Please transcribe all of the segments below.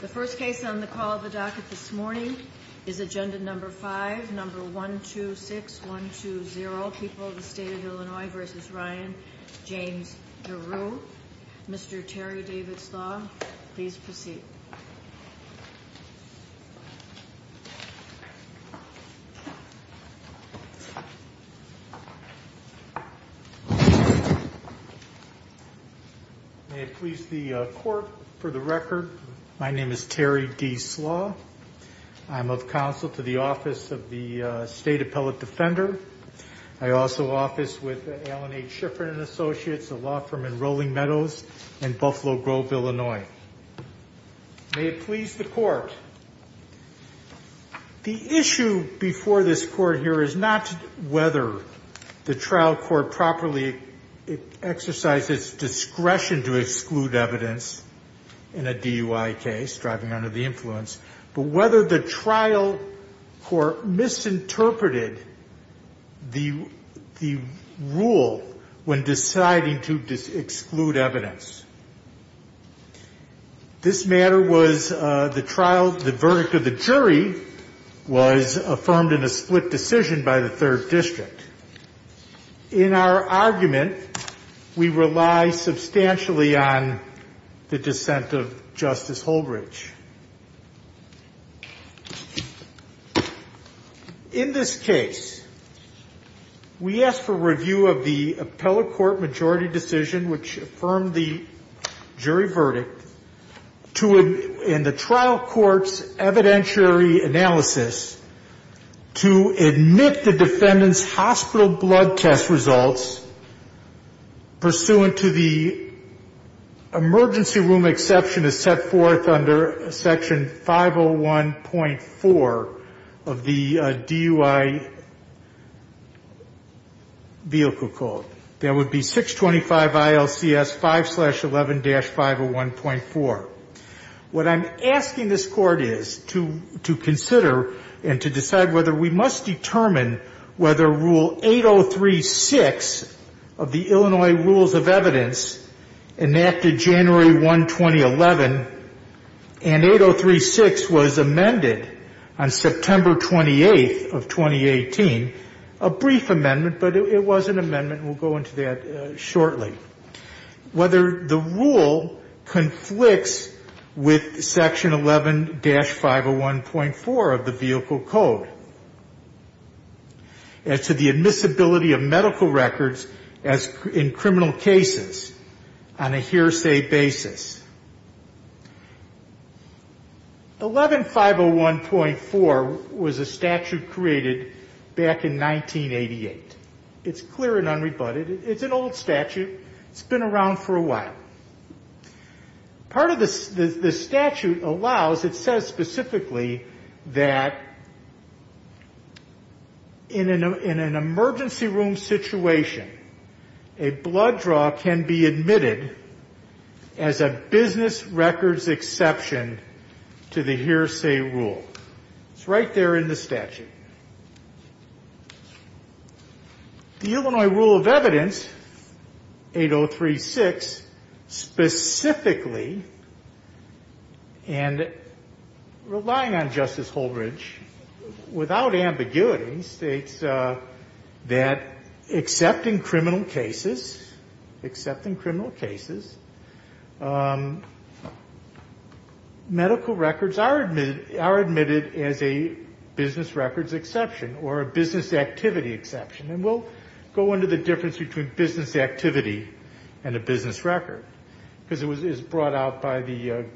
The first case on the call of the docket this morning is agenda number 5, number 126120, People of the State of Illinois v. Ryan James Deroo. Mr. Terry Davidslaw, please proceed. May it please the court, for the record, my name is Terry Davidslaw. I'm of counsel to the office of the State Appellate Defender. I also office with Alan H. Shiffrin and Associates, a law firm in Rolling Meadows and Buffalo Grove, Illinois. May it please the court, the issue before this court here is not whether the trial court properly exercised its discretion to exclude evidence in a DUI case, driving under the influence, but whether the trial court misinterpreted the rule when deciding to exclude evidence. This matter was the trial, the verdict of the jury was affirmed in a split decision by the third district. In our argument, we rely substantially on the dissent of Justice Holbridge. In this case, we ask for review of the appellate court majority decision, which affirmed the jury verdict, to, in the trial court's evidentiary analysis, to admit the defendant's hospital blood test results pursuant to the emergency room exception as set forth under a DUI. This is under section 501.4 of the DUI vehicle code. That would be 625 ILCS 5-11-501.4. This is under section 501.4 of the DUI vehicle code. That would be 625 ILCS 5-11-501.4. 11-501.4 was a statute created back in 1988. It's clear and unrebutted. It's an old statute. It's been around for a while. Part of the statute allows, it says specifically that in an emergency room situation, a blood draw can be admitted as a business records exception to the hearsay rule. It's right there in the statute. The Illinois rule of evidence, 803-6, specifically, and relying on Justice Holbridge, without ambiguity, states that except in criminal cases, except in criminal cases, medical records are admitted as a business records exception. Or a business activity exception. And we'll go into the difference between business activity and a business record. Because it was brought out by the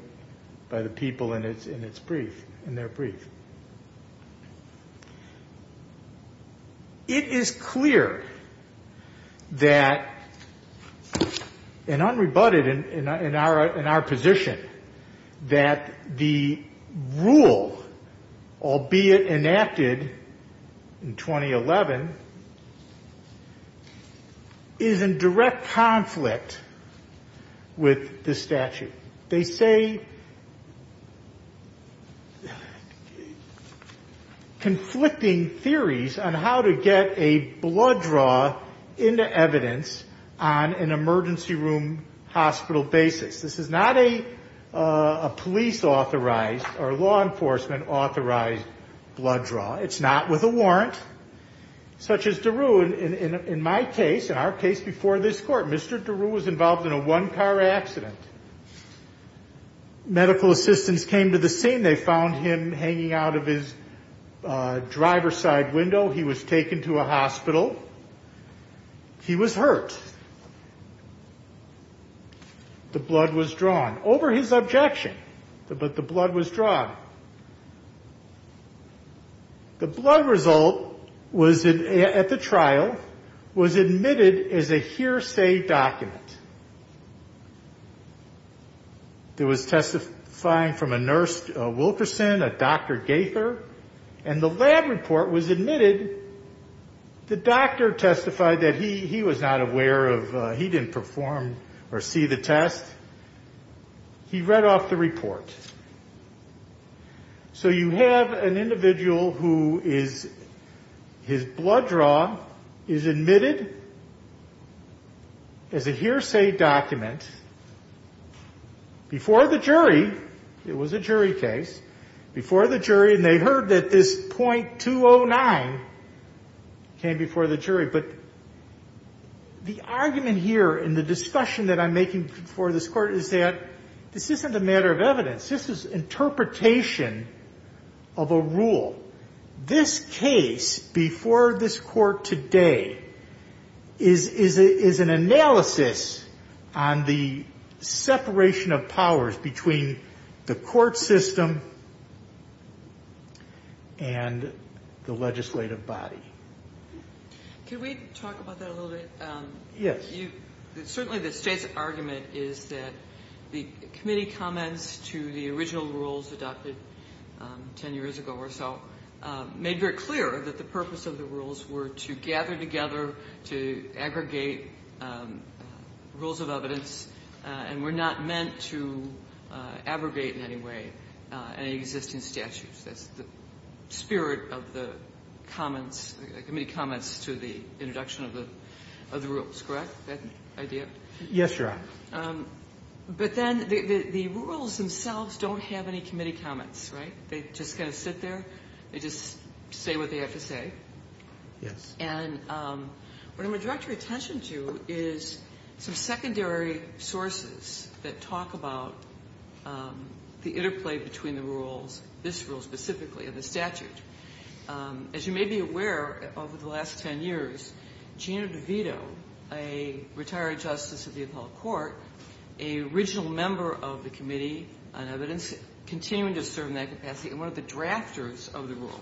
people in their brief. It is clear that, and unrebutted in our position, that the rule, albeit enacted in 2011, is in direct conflict with the statute. They say conflicting theories on how to get a blood draw into evidence on an emergency room hospital basis. This is not a police authorized or law enforcement authorized blood draw. It's not with a warrant. Such as DeRue, in my case, in our case before this court, Mr. DeRue was involved in a one-car accident. Medical assistants came to the scene. They found him hanging out of his driver's side window. He was taken to a hospital. He was hurt. The blood was drawn. Over his objection. But the blood was drawn. The blood result at the trial was admitted as a hearsay document. There was testifying from a nurse, a Wilkerson, a Dr. Gaither. And the lab report was admitted. The doctor testified that he was not aware of, he didn't perform or see the test. He read off the report. So you have an individual who is, his blood draw is admitted as a hearsay document before the jury. It was a jury case. Before the jury. And they heard that this .209 came before the jury. But the argument here in the discussion that I'm making before this court is that this isn't a matter of evidence. This is interpretation of a rule. This case before this court today is an analysis on the separation of powers between the court system and the legislative body. Can we talk about that a little bit? Yes. Certainly the State's argument is that the committee comments to the original rules adopted 10 years ago or so made very clear that the purpose of the rules were to gather together to aggregate rules of evidence and were not meant to aggregate in any way any existing statutes. That's the spirit of the comments, the committee comments to the introduction of the rules, correct? That idea? Yes, Your Honor. But then the rules themselves don't have any committee comments, right? They just kind of sit there. They just say what they have to say. Yes. And what I'm going to direct your attention to is some secondary sources that talk about the interplay between the rules, this rule specifically and the statute. As you may be aware, over the last 10 years, Gina DeVito, a retired justice of the appellate court, a regional member of the committee on evidence, continuing to serve in that capacity and one of the drafters of the rule,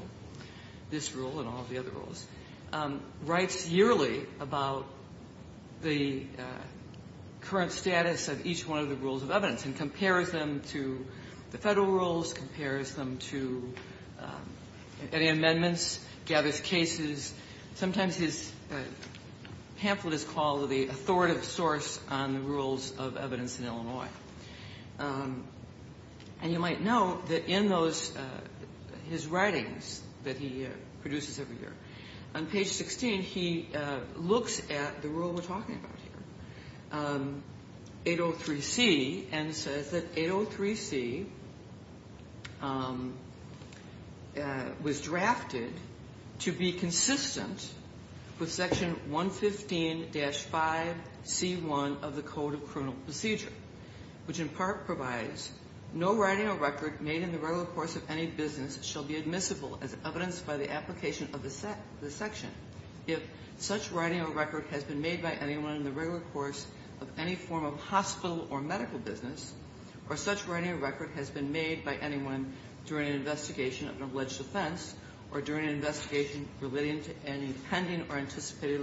this rule and all of the other rules. He writes yearly about the current status of each one of the rules of evidence and compares them to the Federal rules, compares them to any amendments, gathers cases. Sometimes his pamphlet is called the authoritative source on the rules of evidence in Illinois. And you might know that in those, his writings that he produces every year, on page 16, he looks at the rule we're talking about here, 803C, and says that 803C was drafted to be consistent with the rules of evidence. Consistent with Section 115-5C1 of the Code of Criminal Procedure, which in part provides no writing or record made in the regular course of any business shall be admissible as evidenced by the application of the section. If such writing or record has been made by anyone in the regular course of any form of hospital or medical business, or such writing or record has been made by anyone during an investigation of an alleged offense or during an investigation relating to any pending or anticipated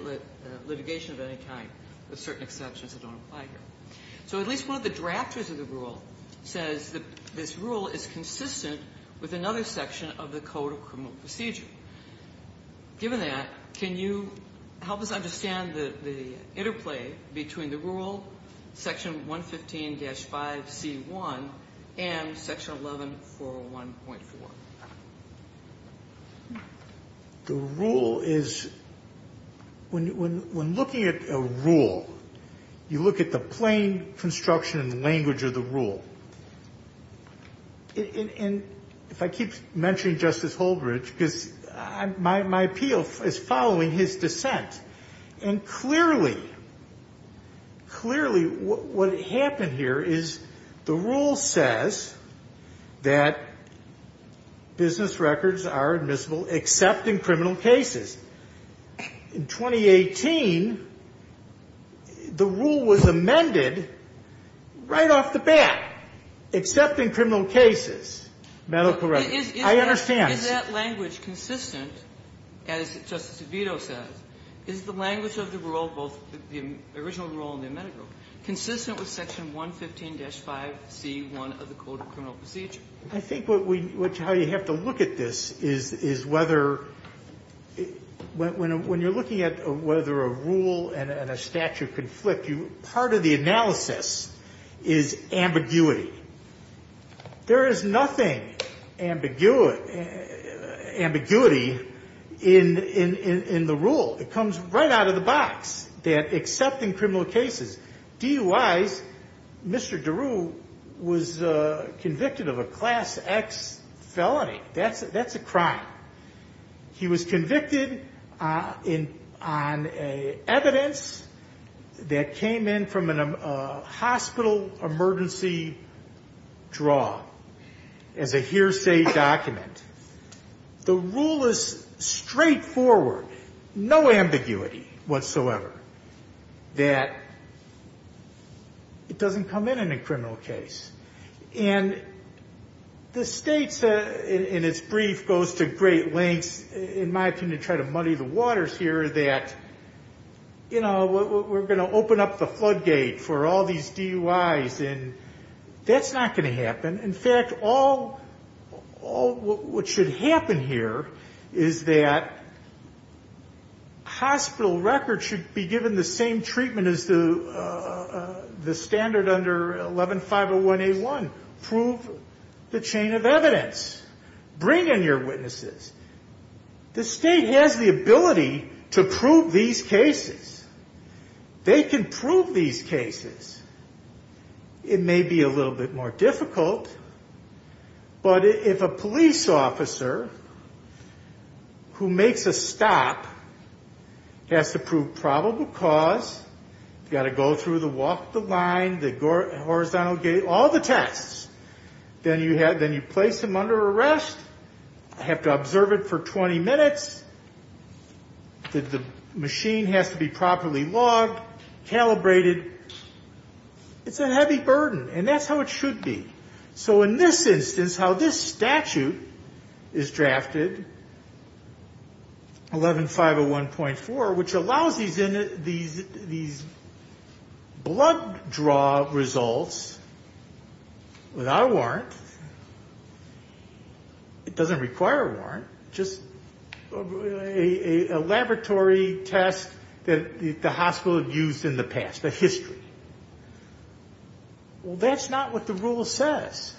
litigation of any kind, with certain exceptions that don't apply here. So at least one of the drafters of the rule says that this rule is consistent with another section of the Code of Criminal Procedure. Given that, can you help us understand the interplay between the rule, Section 115-5C1, and Section 11401.4? The rule is, when looking at a rule, you look at the plain construction and language of the rule. And if I keep mentioning Justice Holdred, because my appeal is following his dissent. And clearly, clearly what happened here is the rule says that business records are admissible except in criminal cases. In 2018, the rule was amended right off the bat, except in criminal cases, medical records. I understand. Is that language consistent, as Justice DeVito says? Is the language of the rule, both the original rule and the amended rule, consistent with Section 115-5C1 of the Code of Criminal Procedure? I think how you have to look at this is whether, when you're looking at whether a rule and a statute conflict, part of the analysis is ambiguity. There is nothing ambiguity in the rule. It comes right out of the box, that except in criminal cases. DUI's, Mr. DeRue was convicted of a Class X felony. That's a crime. He was convicted on evidence that came in from a hospital emergency draw as a hearsay document. The rule is straightforward, no ambiguity whatsoever, that it doesn't come in in a criminal case. And the State, in its brief, goes to great lengths, in my opinion, to try to muddy the waters here that, you know, we're going to open up the floodgate for all these DUI's. And that's not going to happen. In fact, all what should happen here is that hospital records should be given the same treatment as the standard under 11-501A1, prove the chain of evidence. Bring in your witnesses. The State has the ability to prove these cases. They can prove these cases. It may be a little bit more difficult, but if a police officer who makes a stop has to prove probable cause, you've got to go through the walk the line, the horizontal gate, all the tests. Then you place him under arrest. Have to observe it for 20 minutes. The machine has to be properly logged, calibrated. It's a heavy burden, and that's how it should be. So in this instance, how this statute is drafted, 11-501.4, which allows these blood draw results without a warrant, it doesn't require a warrant, just a laboratory test that the hospital used in the past, a history. Well, that's not what the rule says.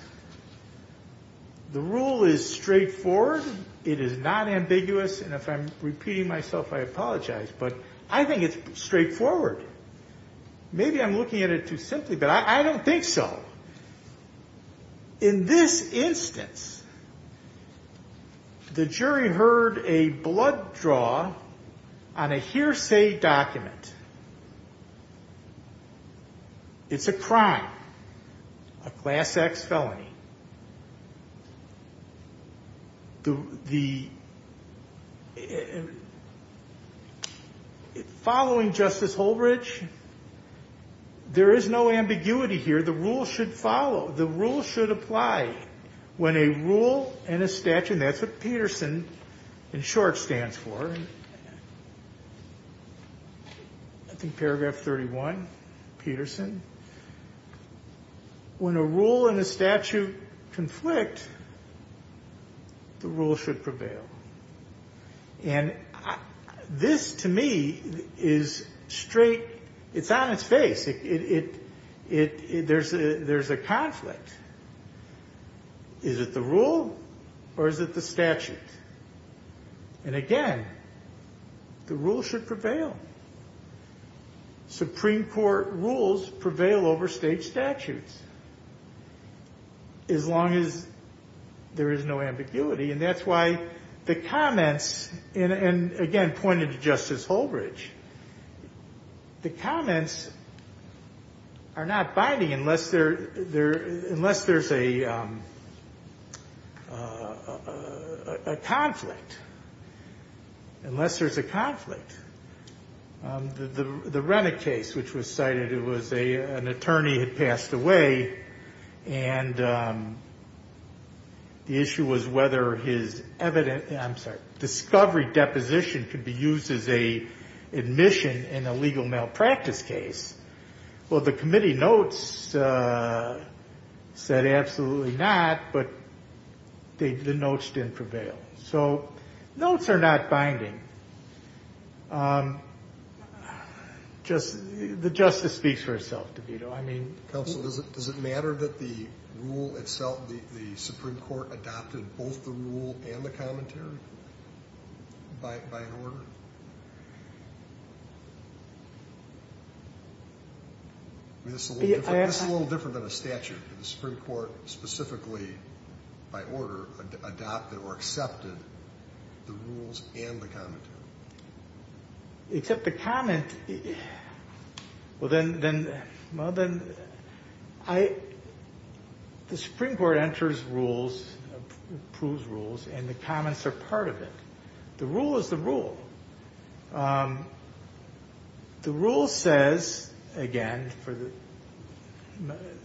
The rule is straightforward. It is not ambiguous, and if I'm repeating myself, I apologize, but I think it's straightforward. Maybe I'm looking at it too simply, but I don't think so. In this instance, the jury heard a blood draw on a hearsay document. It's a crime, a class X felony. Following Justice Holbridge, there is no ambiguity here. The rule should follow. The rule should apply. When a rule and a statute, and that's what Peterson, in short, stands for, I think paragraph 31, Peterson. When a rule and a statute conflict, the rule should prevail. And this, to me, is straight, it's on its face. There's a conflict. Is it the rule or is it the statute? And again, the rule should prevail. Supreme Court rules prevail over state statutes, as long as there is no ambiguity, and that's why the comments, and again, pointed to Justice Holbridge, the comments are not binding unless there's a conflict, unless there's a conflict. The Rennick case, which was cited, it was an attorney had passed away, and the issue was whether his evidence, I'm sorry, discovery deposition could be used as a admission in a legal malpractice case. Well, the committee notes said absolutely not, but the notes didn't prevail. So notes are not binding. The Justice speaks for herself, DeVito. Counsel, does it matter that the rule itself, the Supreme Court adopted both the rule and the commentary by order? This is a little different than a statute. The Supreme Court specifically, by order, adopted or accepted the rules and the commentary. Except the comment, well then, the Supreme Court enters rules, approves rules, and the comments are part of it. The rule is the rule. The rule says, again,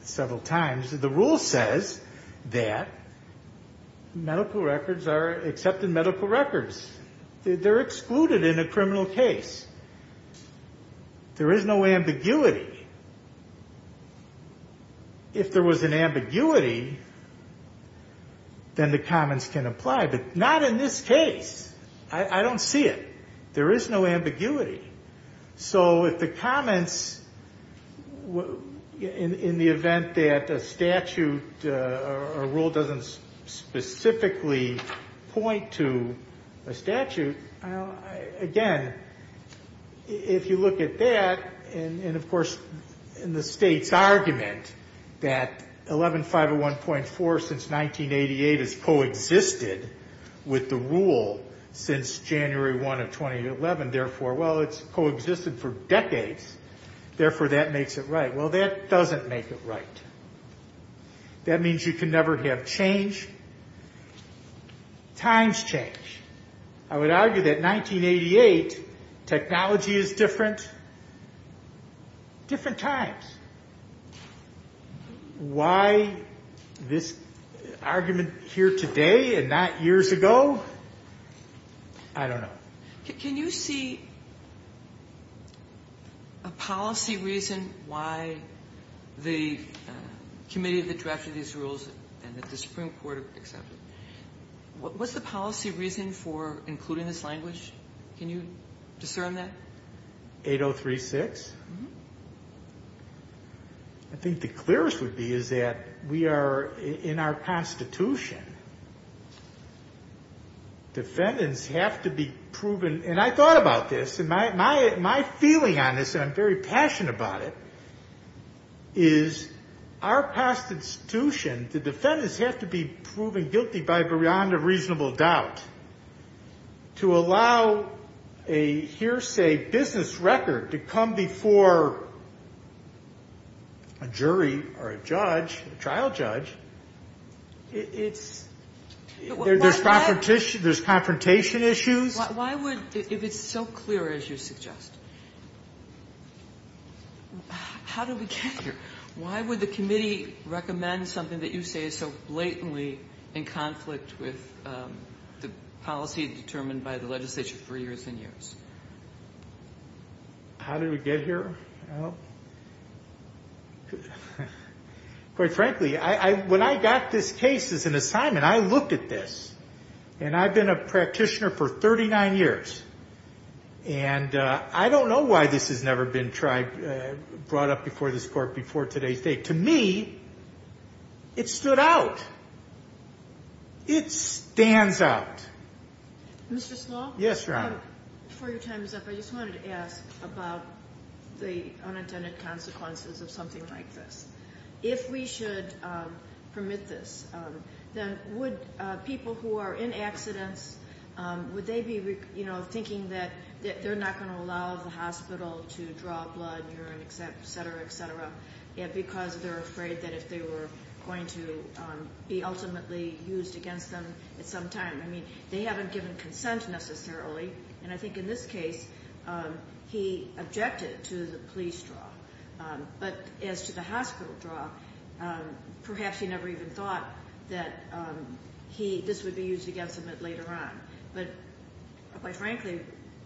several times, the rule says that medical records are accepted medical records. They're excluded in a criminal case. There is no ambiguity. If there was an ambiguity, then the comments can apply, but not in this case. I don't see it. There is no ambiguity. So if the comments, in the event that a statute, a rule doesn't specifically point to a statute, again, if you look at that, and of course, in the state's argument that 11501.4 since 1988 has coexisted with the rule since January 1 of 2011, therefore, well, it's coexisted for decades. Therefore, that makes it right. Well, that doesn't make it right. That means you can never have change. Times change. I would argue that 1988, technology is different. Different times. Why this argument here today and not years ago, I don't know. Can you see a policy reason why the committee that drafted these rules and that the Supreme Court accepted? What's the policy reason for including this language? Can you discern that? I think the clearest would be is that we are in our constitution. Defendants have to be proven, and I thought about this, and my feeling on this, and I'm very passionate about it, is our constitution, the defendants have to be proven guilty by a reasonable doubt. To allow a hearsay business record to come before a jury or a judge, a trial judge, it's, there's confrontation issues. Why would, if it's so clear as you suggest, how do we get here? Why would the committee recommend something that you say is so blatantly in conflict with the policy determined by the legislature for years and years? How did we get here? Quite frankly, when I got this case as an assignment, I looked at this, and I've been a practitioner for 39 years, and I don't know why this has never been brought up before this court before today's date. To me, it stood out. It stands out. Mr. Slaw? Yes, Your Honor. Before your time is up, I just wanted to ask about the unintended consequences of something like this. If we should permit this, then would people who are in accidents, would they be thinking that they're not going to allow the hospital to draw blood, urine, etc., etc., because they're afraid that if they were going to be ultimately used against them at some time? I mean, they haven't given consent necessarily, and I think in this case, he objected to the police draw. But as to the hospital draw, perhaps he never even thought that he, this would be used against him at later on. But quite frankly,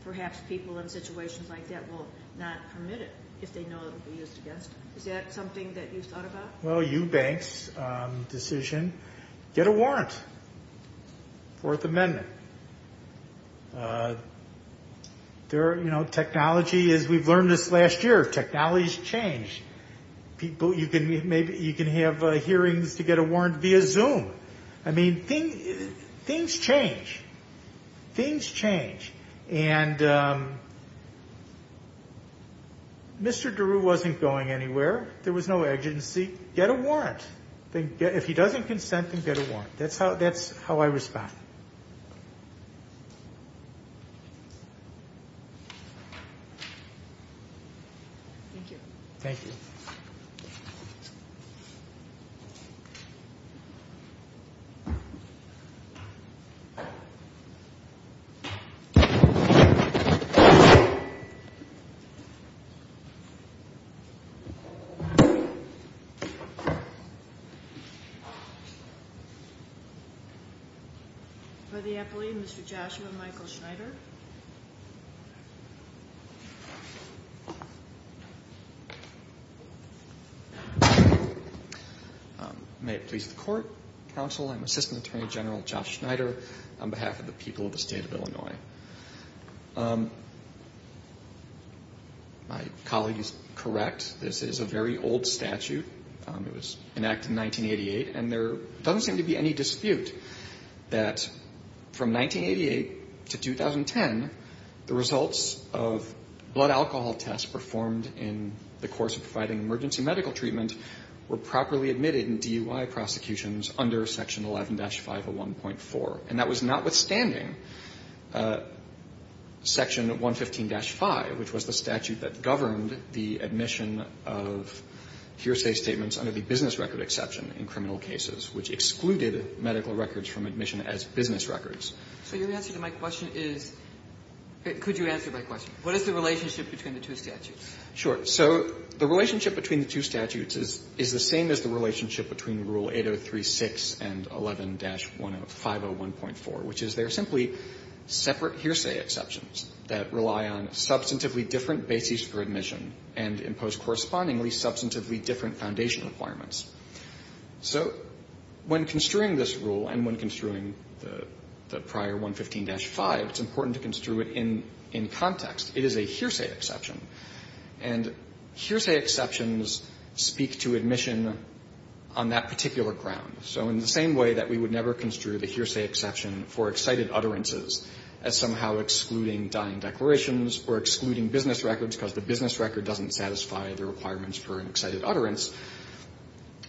perhaps people in situations like that will not permit it if they know it will be used against them. Is that something that you've thought about? Well, Eubanks' decision, get a warrant, Fourth Amendment. Technology, as we've learned this last year, technology's changed. You can have hearings to get a warrant via Zoom. I mean, things change. Things change. And Mr. Daru wasn't going anywhere. There was no agency. Get a warrant. If he doesn't consent, then get a warrant. That's how I respond. Thank you. Thank you. Mr. Joshua Michael Schneider. May it please the court, counsel, I'm Assistant Attorney General Josh Schneider on behalf of the people of the state of Illinois. My colleague is correct. This is a very old statute. It was enacted in 1988, and there doesn't seem to be any dispute that from 1988 to 2010, the results of blood alcohol tests performed in the course of providing emergency medical treatment were properly admitted in DUI prosecutions under Section 11-501.4. And that was notwithstanding Section 115-5, which was the statute that governed the admission of hearsay statements under the business record exception in criminal cases, which excluded medical records from admission as business records. So your answer to my question is, could you answer my question? What is the relationship between the two statutes? Sure. So the relationship between the two statutes is the same as the relationship between Rule 803-6 and 11-501.4, which is they're simply separate hearsay exceptions that rely on substantively different bases for admission and impose correspondingly substantively different foundation requirements. So when construing this rule and when construing the prior 115-5, it's important to construe it in context. It is a hearsay exception. And hearsay exceptions speak to admission on that particular ground. So in the same way that we would never construe the hearsay exception for excited utterances as somehow excluding dying declarations or excluding business records because the business record doesn't satisfy the requirements for an excited utterance,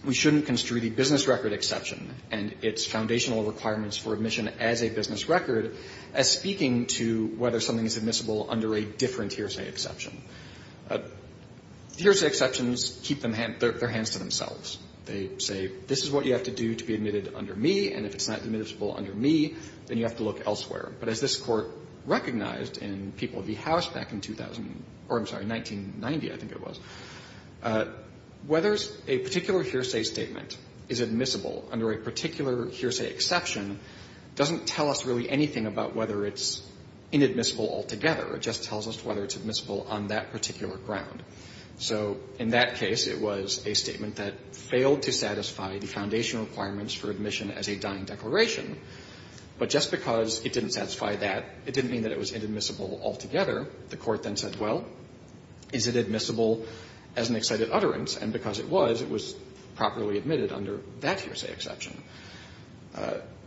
we shouldn't construe the business record exception and its foundational requirements for admission as a business record as speaking to whether something is admissible under a different hearsay exception. Hearsay exceptions keep their hands to themselves. They say, this is what you have to do to be admitted under me, and if it's not admissible under me, then you have to look elsewhere. But as this Court recognized in People v. House back in 2000 or, I'm sorry, 1990, I think it was, whether a particular hearsay statement is admissible under a particular hearsay exception doesn't tell us really anything about whether it's inadmissible altogether. It just tells us whether it's admissible on that particular ground. So in that case, it was a statement that failed to satisfy the foundational requirements for admission as a dying declaration, but just because it didn't satisfy that, it didn't mean that it was inadmissible altogether. The Court then said, well, is it admissible as an excited utterance? And because it was, it was properly admitted under that hearsay exception.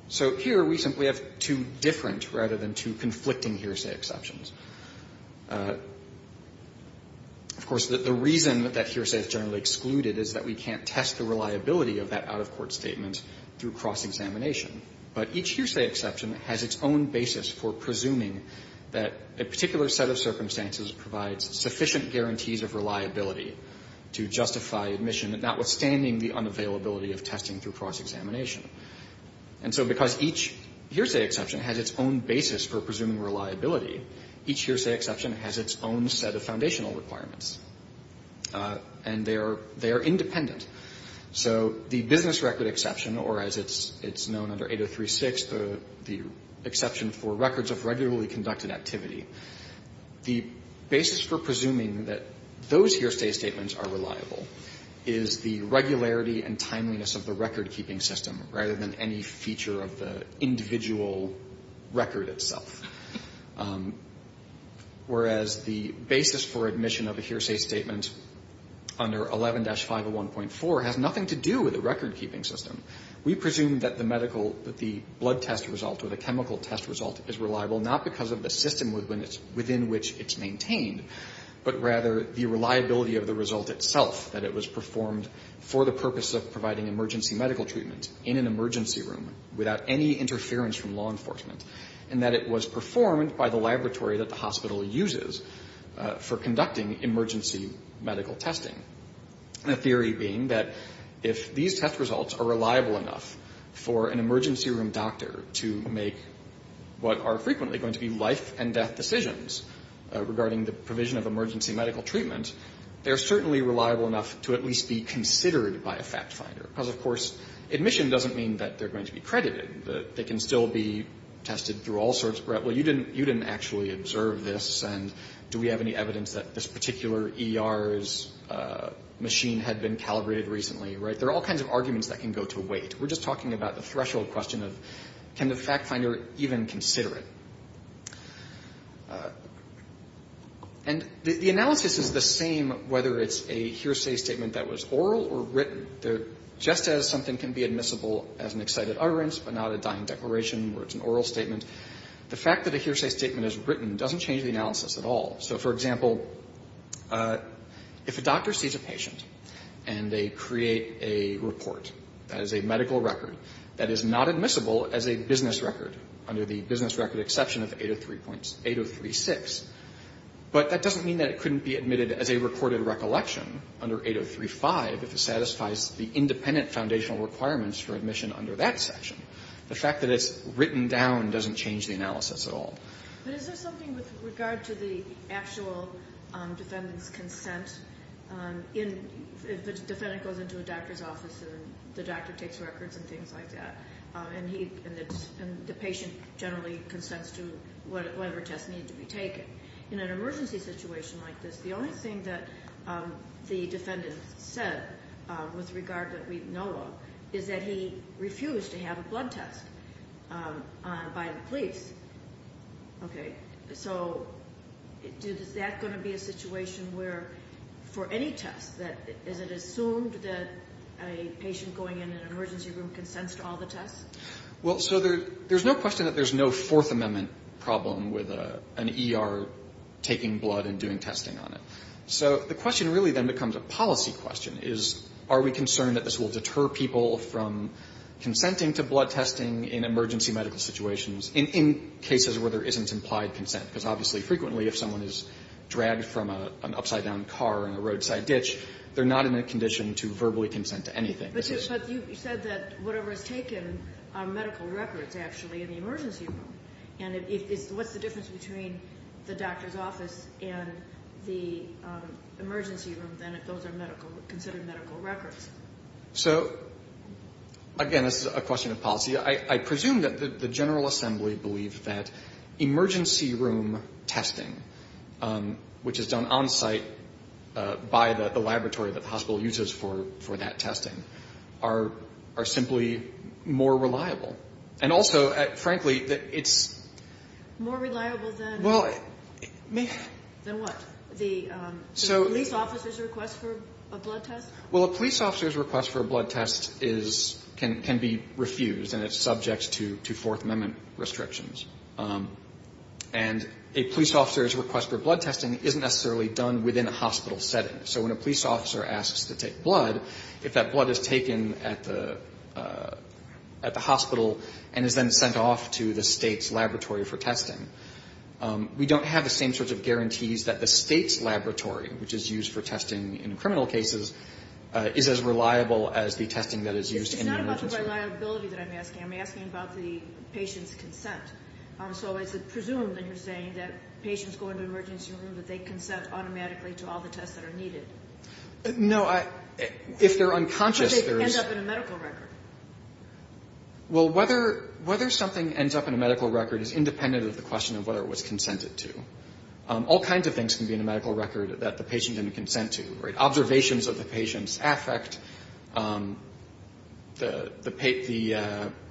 So here we simply have two different rather than two conflicting hearsay exceptions. Of course, the reason that that hearsay is generally excluded is that we can't test the reliability of that out-of-court statement through cross-examination. But each hearsay exception has its own basis for presuming that a particular set of circumstances provides sufficient guarantees of reliability to justify admission, notwithstanding the unavailability of testing through cross-examination. And so because each hearsay exception has its own basis for presuming reliability, each hearsay exception has its own set of foundational requirements. And they are independent. So the business record exception, or as it's known under 8036, the exception for records of regularly conducted activity, the basis for presuming that those is the regularity and timeliness of the record-keeping system rather than any feature of the individual record itself. Whereas the basis for admission of a hearsay statement under 11-501.4 has nothing to do with the record-keeping system. We presume that the medical, that the blood test result or the chemical test result is reliable not because of the system within which it's maintained, but rather the purpose of providing emergency medical treatment in an emergency room without any interference from law enforcement. And that it was performed by the laboratory that the hospital uses for conducting emergency medical testing. The theory being that if these test results are reliable enough for an emergency room doctor to make what are frequently going to be life and death decisions regarding the provision of emergency medical treatment, they're certainly reliable enough to at least be considered by a fact finder. Because, of course, admission doesn't mean that they're going to be credited. They can still be tested through all sorts of, well, you didn't actually observe this, and do we have any evidence that this particular ER's machine had been calibrated recently? There are all kinds of arguments that can go to weight. We're just talking about the threshold question of can the fact finder even consider it? And the analysis is the same whether it's a hearsay statement that was oral or written. Just as something can be admissible as an excited utterance but not a dying declaration where it's an oral statement, the fact that a hearsay statement is written doesn't change the analysis at all. So, for example, if a doctor sees a patient and they create a report that is a medical record that is not admissible as a business record under the business record exception of 8036, but that doesn't mean that it couldn't be admitted as a recorded recollection under 8035 if it satisfies the independent foundational requirements for admission under that section. The fact that it's written down doesn't change the analysis at all. But is there something with regard to the actual defendant's consent? If the defendant goes into a doctor's office and the doctor takes records and things like that and the patient generally consents to whatever test needed to be taken, in an emergency situation like this, the only thing that the defendant said with regard that we know of is that he refused to have a blood test by the police. Okay. So is that going to be a situation where for any test that is it assumed that a patient going in an emergency room consents to all the tests? Well, so there's no question that there's no Fourth Amendment problem with an ER taking blood and doing testing on it. So the question really then becomes a policy question, is are we concerned that this will deter people from consenting to blood testing in emergency medical situations in cases where there isn't implied consent? Because obviously frequently if someone is dragged from an upside-down car in a roadside ditch, they're not in a condition to verbally consent to anything. But you said that whatever is taken are medical records, actually, in the emergency room. And what's the difference between the doctor's office and the emergency room than if those are medical, considered medical records? So, again, this is a question of policy. I presume that the General Assembly believe that emergency room testing, which is done on-site by the laboratory that the hospital uses for that testing, are simply more reliable. And also, frankly, it's... More reliable than what? The police officer's request for a blood test? Well, a police officer's request for a blood test can be refused, and it's subject to Fourth Amendment restrictions. And a police officer's request for blood testing isn't necessarily done within a hospital setting. So when a police officer asks to take blood, if that blood is taken at the hospital and is then sent off to the State's laboratory for testing, we don't have the same sorts of guarantees that the State's laboratory, which is used for testing in criminal cases, is as reliable as the testing that is used in the emergency room. It's not about the reliability that I'm asking. I'm asking about the patient's consent. So is it presumed that you're saying that patients go into an emergency room, that they consent automatically to all the tests that are needed? No. If they're unconscious, there is... Because they end up in a medical record. Well, whether something ends up in a medical record is independent of the question of whether it was consented to. All kinds of things can be in a medical record that the patient didn't consent to, right?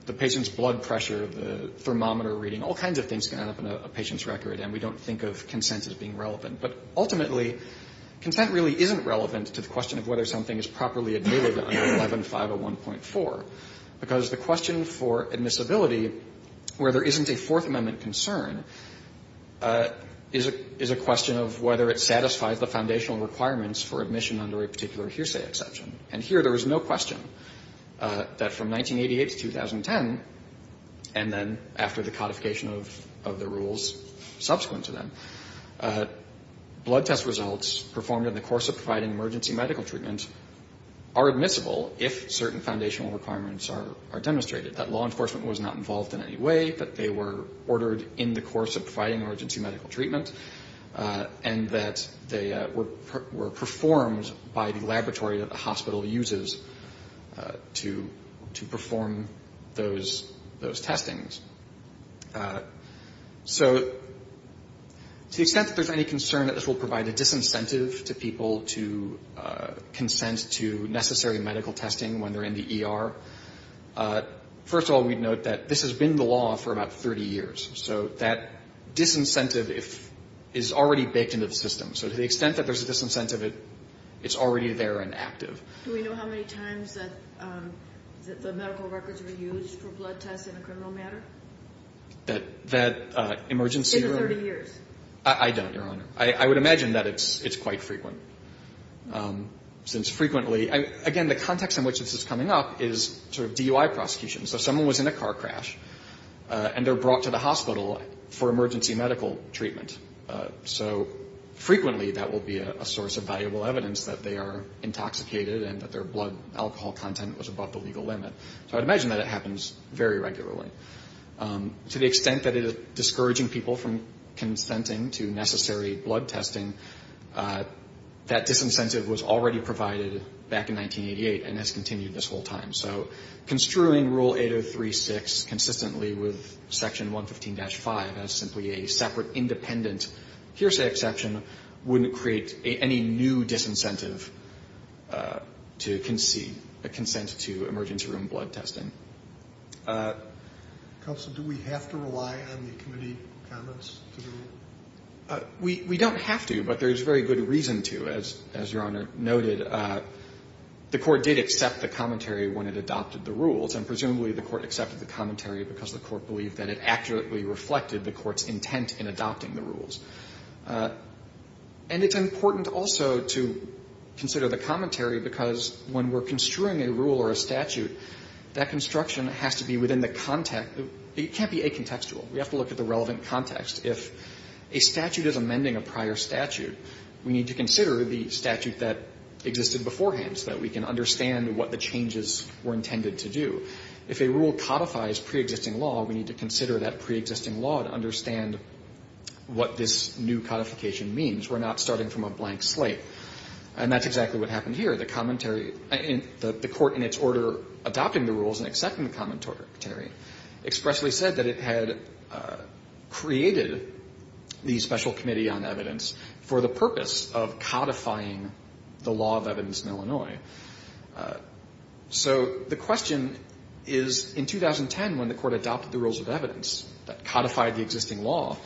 The patient's blood pressure, the thermometer reading, all kinds of things can end up in a patient's record, and we don't think of consent as being relevant. But ultimately, consent really isn't relevant to the question of whether something is properly admitted under 11501.4, because the question for admissibility, where there isn't a Fourth Amendment concern, is a question of whether it satisfies the foundational requirements for admission under a particular hearsay exception. And here, there is no question that from 1988 to 2010, and then after the codification of the rules subsequent to that, blood test results performed in the course of providing emergency medical treatment are admissible if certain foundational requirements are demonstrated, that law enforcement was not involved in any way, that they were ordered in the course of providing emergency medical treatment, and that they were performed by the laboratory that the hospital uses to perform those testings. So to the extent that there's any concern that this will provide a disincentive to people to consent to necessary medical testing when they're in the ER, first of all, we'd note that this has been the law for about 30 years. So that disincentive is already baked into the system. So to the extent that there's a disincentive, it's already there and active. Do we know how many times that the medical records were used for blood tests in a criminal matter? That emergency room? In the 30 years. I don't, Your Honor. I would imagine that it's quite frequent, since frequently – again, the context in which this is coming up is sort of DUI prosecution. So someone was in a car crash, and they're brought to the hospital for emergency medical treatment. So frequently that will be a source of valuable evidence that they are intoxicated and that their blood alcohol content was above the legal limit. So I'd imagine that it happens very regularly. To the extent that it is discouraging people from consenting to necessary blood testing, that disincentive was already provided back in 1988 and has continued this whole time. So construing Rule 803.6 consistently with Section 115-5 as simply a separate, independent hearsay exception wouldn't create any new disincentive to concede a consent to emergency room blood testing. Counsel, do we have to rely on the committee comments to the rule? We don't have to, but there's very good reason to, as Your Honor noted. And the Court did accept the commentary when it adopted the rules, and presumably the Court accepted the commentary because the Court believed that it accurately reflected the Court's intent in adopting the rules. And it's important also to consider the commentary because when we're construing a rule or a statute, that construction has to be within the context. It can't be acontextual. We have to look at the relevant context. If a statute is amending a prior statute, we need to consider the statute that exists beforehand so that we can understand what the changes were intended to do. If a rule codifies preexisting law, we need to consider that preexisting law to understand what this new codification means. We're not starting from a blank slate. And that's exactly what happened here. The commentary and the Court in its order adopting the rules and accepting the commentary expressly said that it had created the Special Committee on Evidence for the purpose of codifying the law of evidence in Illinois. So the question is, in 2010, when the Court adopted the rules of evidence that codified the existing law,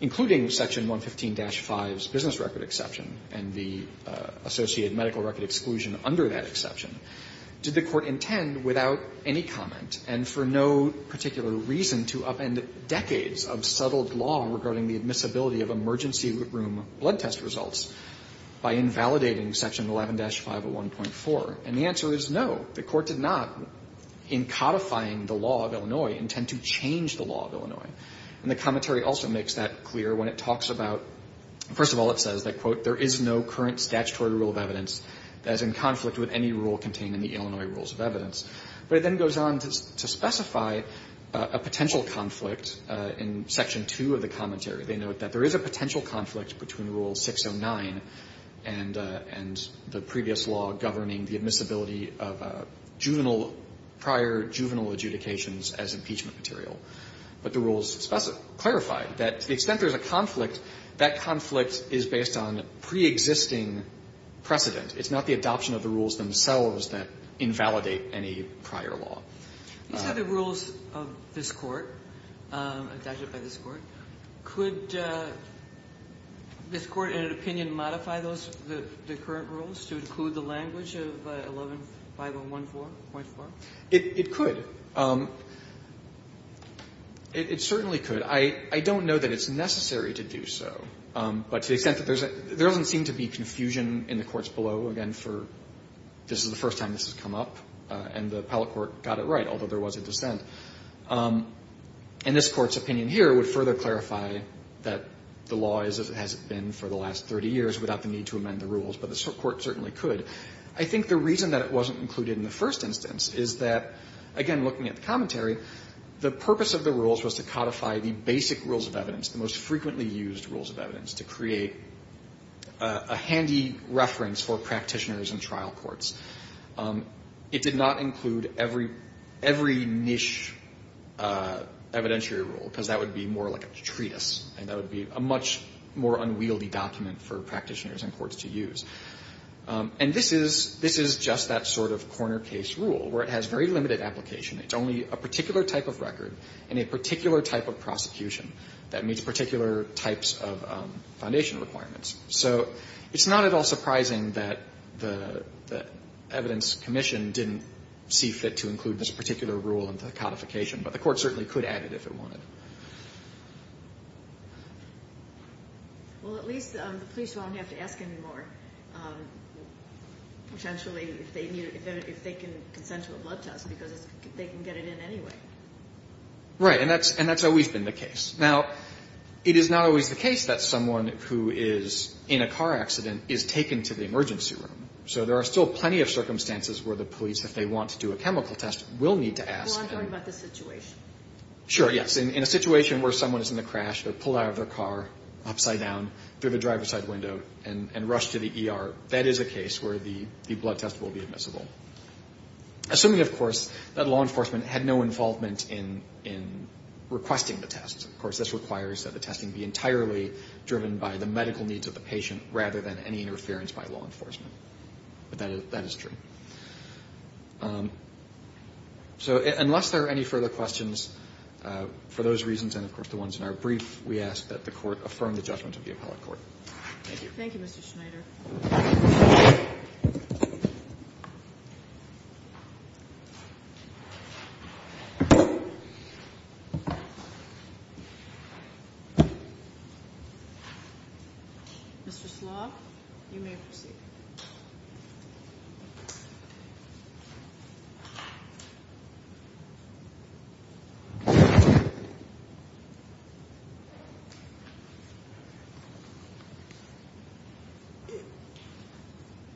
including Section 115-5's business record exception and the associated medical record exclusion under that exception, did the Court intend without any comment and for no particular reason to upend decades of settled law regarding the admissibility of emergency room blood test results by invalidating Section 11-5 of 1.4? And the answer is no. The Court did not, in codifying the law of Illinois, intend to change the law of Illinois. And the commentary also makes that clear when it talks about, first of all, it says that, quote, there is no current statutory rule of evidence that is in conflict with any rule contained in the Illinois rules of evidence. But it then goes on to specify a potential conflict in Section 2 of the commentary. They note that there is a potential conflict between Rule 609 and the previous law governing the admissibility of juvenile, prior juvenile adjudications as impeachment material. But the rules specify, clarify that to the extent there's a conflict, that conflict is based on preexisting precedent. It's not the adoption of the rules themselves that invalidate any prior law. These are the rules of this Court, adopted by this Court. Could this Court, in an opinion, modify those, the current rules to include the language of 11-5 of 1.4? It could. It certainly could. I don't know that it's necessary to do so. But to the extent that there's a – there doesn't seem to be confusion in the courts below, again, for this is the first time this has come up. And the appellate court got it right, although there was a dissent. And this Court's opinion here would further clarify that the law as it has been for the last 30 years without the need to amend the rules. But the Court certainly could. I think the reason that it wasn't included in the first instance is that, again, looking at the commentary, the purpose of the rules was to codify the basic rules of evidence, the most frequently used rules of evidence, to create a handy reference for practitioners and trial courts. It did not include every – every niche evidentiary rule, because that would be more like a treatise, and that would be a much more unwieldy document for practitioners and courts to use. And this is – this is just that sort of corner case rule, where it has very limited application. It's only a particular type of record and a particular type of prosecution that meets particular types of foundation requirements. So it's not at all surprising that the Evidence Commission didn't see fit to include this particular rule in the codification. But the Court certainly could add it if it wanted. Well, at least the police won't have to ask anymore, potentially, if they need to – if they can consent to a blood test, because they can get it in anyway. Right. And that's – and that's always been the case. Now, it is not always the case that someone who is in a car accident is taken to the emergency room. So there are still plenty of circumstances where the police, if they want to do a chemical test, will need to ask. Well, I'm talking about the situation. Sure, yes. In a situation where someone is in a crash, they're pulled out of their car, upside down, through the driver's side window, and rushed to the ER, that is a case where the blood test will be admissible. Assuming, of course, that law enforcement had no involvement in – in requesting the test. Of course, this requires that the testing be entirely driven by the medical needs of the patient rather than any interference by law enforcement. But that is true. So unless there are any further questions, for those reasons and, of course, the ones in our brief, we ask that the Court affirm the judgment of the appellate court. Thank you. Thank you, Mr. Schneider. Mr. Slock, you may proceed.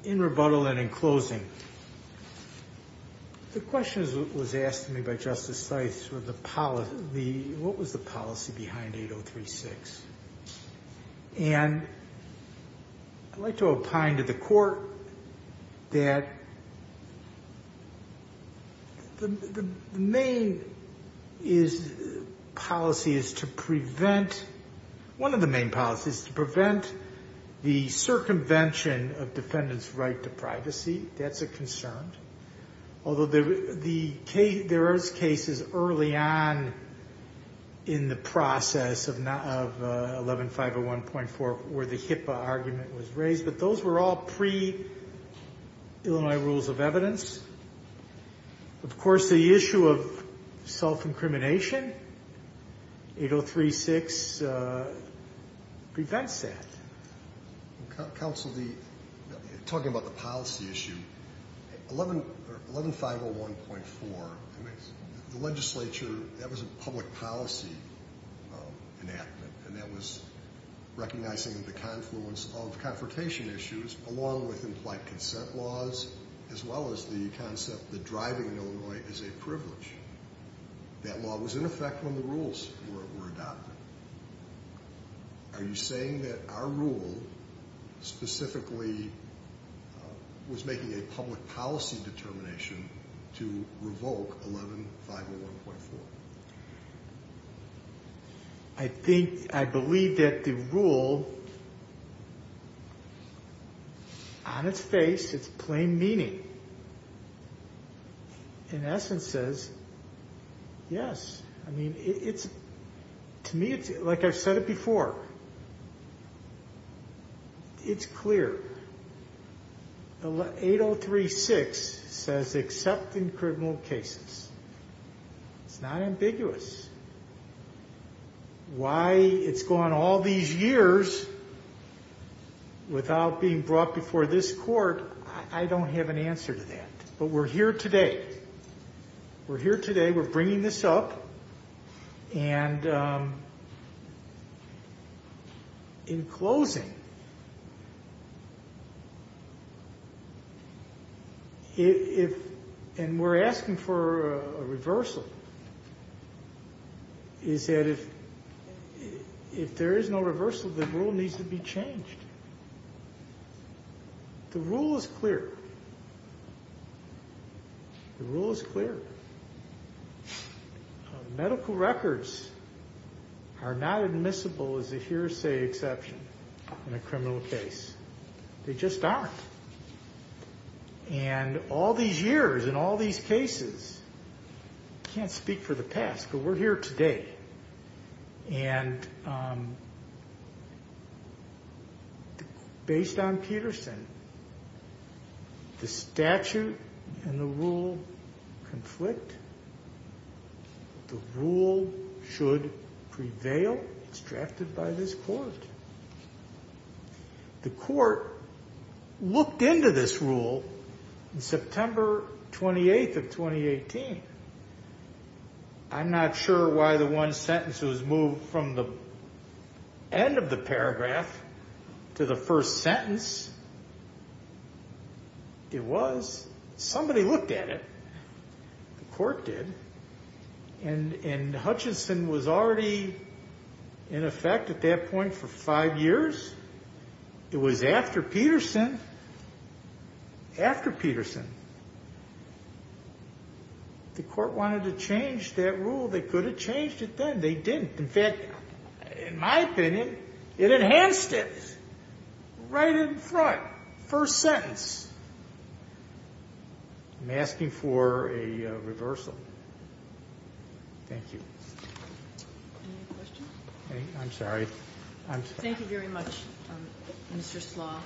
In rebuttal and in closing, the question was asked to me by Justice Syth, what was the policy behind 8036? And I'd like to opine to the Court that the main policy is to prevent – one of the main policies is to prevent the convention of defendants' right to privacy. That's a concern. Although there was cases early on in the process of 11-501.4 where the HIPAA argument was raised, but those were all pre-Illinois Rules of Evidence. Of course, the issue of self-incrimination, 8036 prevents that. Counsel, talking about the policy issue, 11-501.4, the legislature, that was a public policy enactment, and that was recognizing the confluence of confrontation issues along with implied consent laws as well as the concept that driving in Illinois is a privilege. That law was in effect when the rules were adopted. Are you saying that our rule specifically was making a public policy determination to revoke 11-501.4? I think – I believe that the rule, on its face, it's plain meaning. In essence, it says, yes. I mean, to me, like I've said it before, it's clear. 8036 says, except in criminal cases. It's not ambiguous. Why it's gone all these years without being brought before this court, I don't have an answer to that. But we're here today. We're here today. We're bringing this up. And in closing, if – and we're asking for a reversal, is that if there is no reversal, the rule needs to be changed. The rule is clear. The rule is clear. Medical records are not admissible as a hearsay exception in a criminal case. They just aren't. And all these years and all these cases, I can't speak for the past, but we're here today. And based on Peterson, the statute and the rule conflict. The rule should prevail. It's drafted by this court. The court looked into this rule on September 28th of 2018. I'm not sure why the one sentence was moved from the end of the paragraph to the first sentence. It was. Somebody looked at it. The court did. And Hutchinson was already in effect at that point for five years. It was after Peterson. After Peterson. The court wanted to change that rule. They could have changed it then. They didn't. In fact, in my opinion, it enhanced it right in front. First sentence. I'm asking for a reversal. Thank you. Any questions? I'm sorry. I'm sorry. Thank you very much, Mr. Slaw.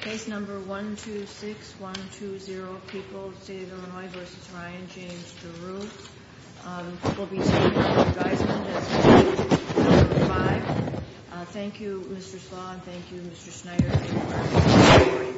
Case number 126120. People of the State of Illinois v. Ryan James DeRue. We'll be taking your advisement as number five. Thank you, Mr. Slaw. Thank you, Mr. Schneider.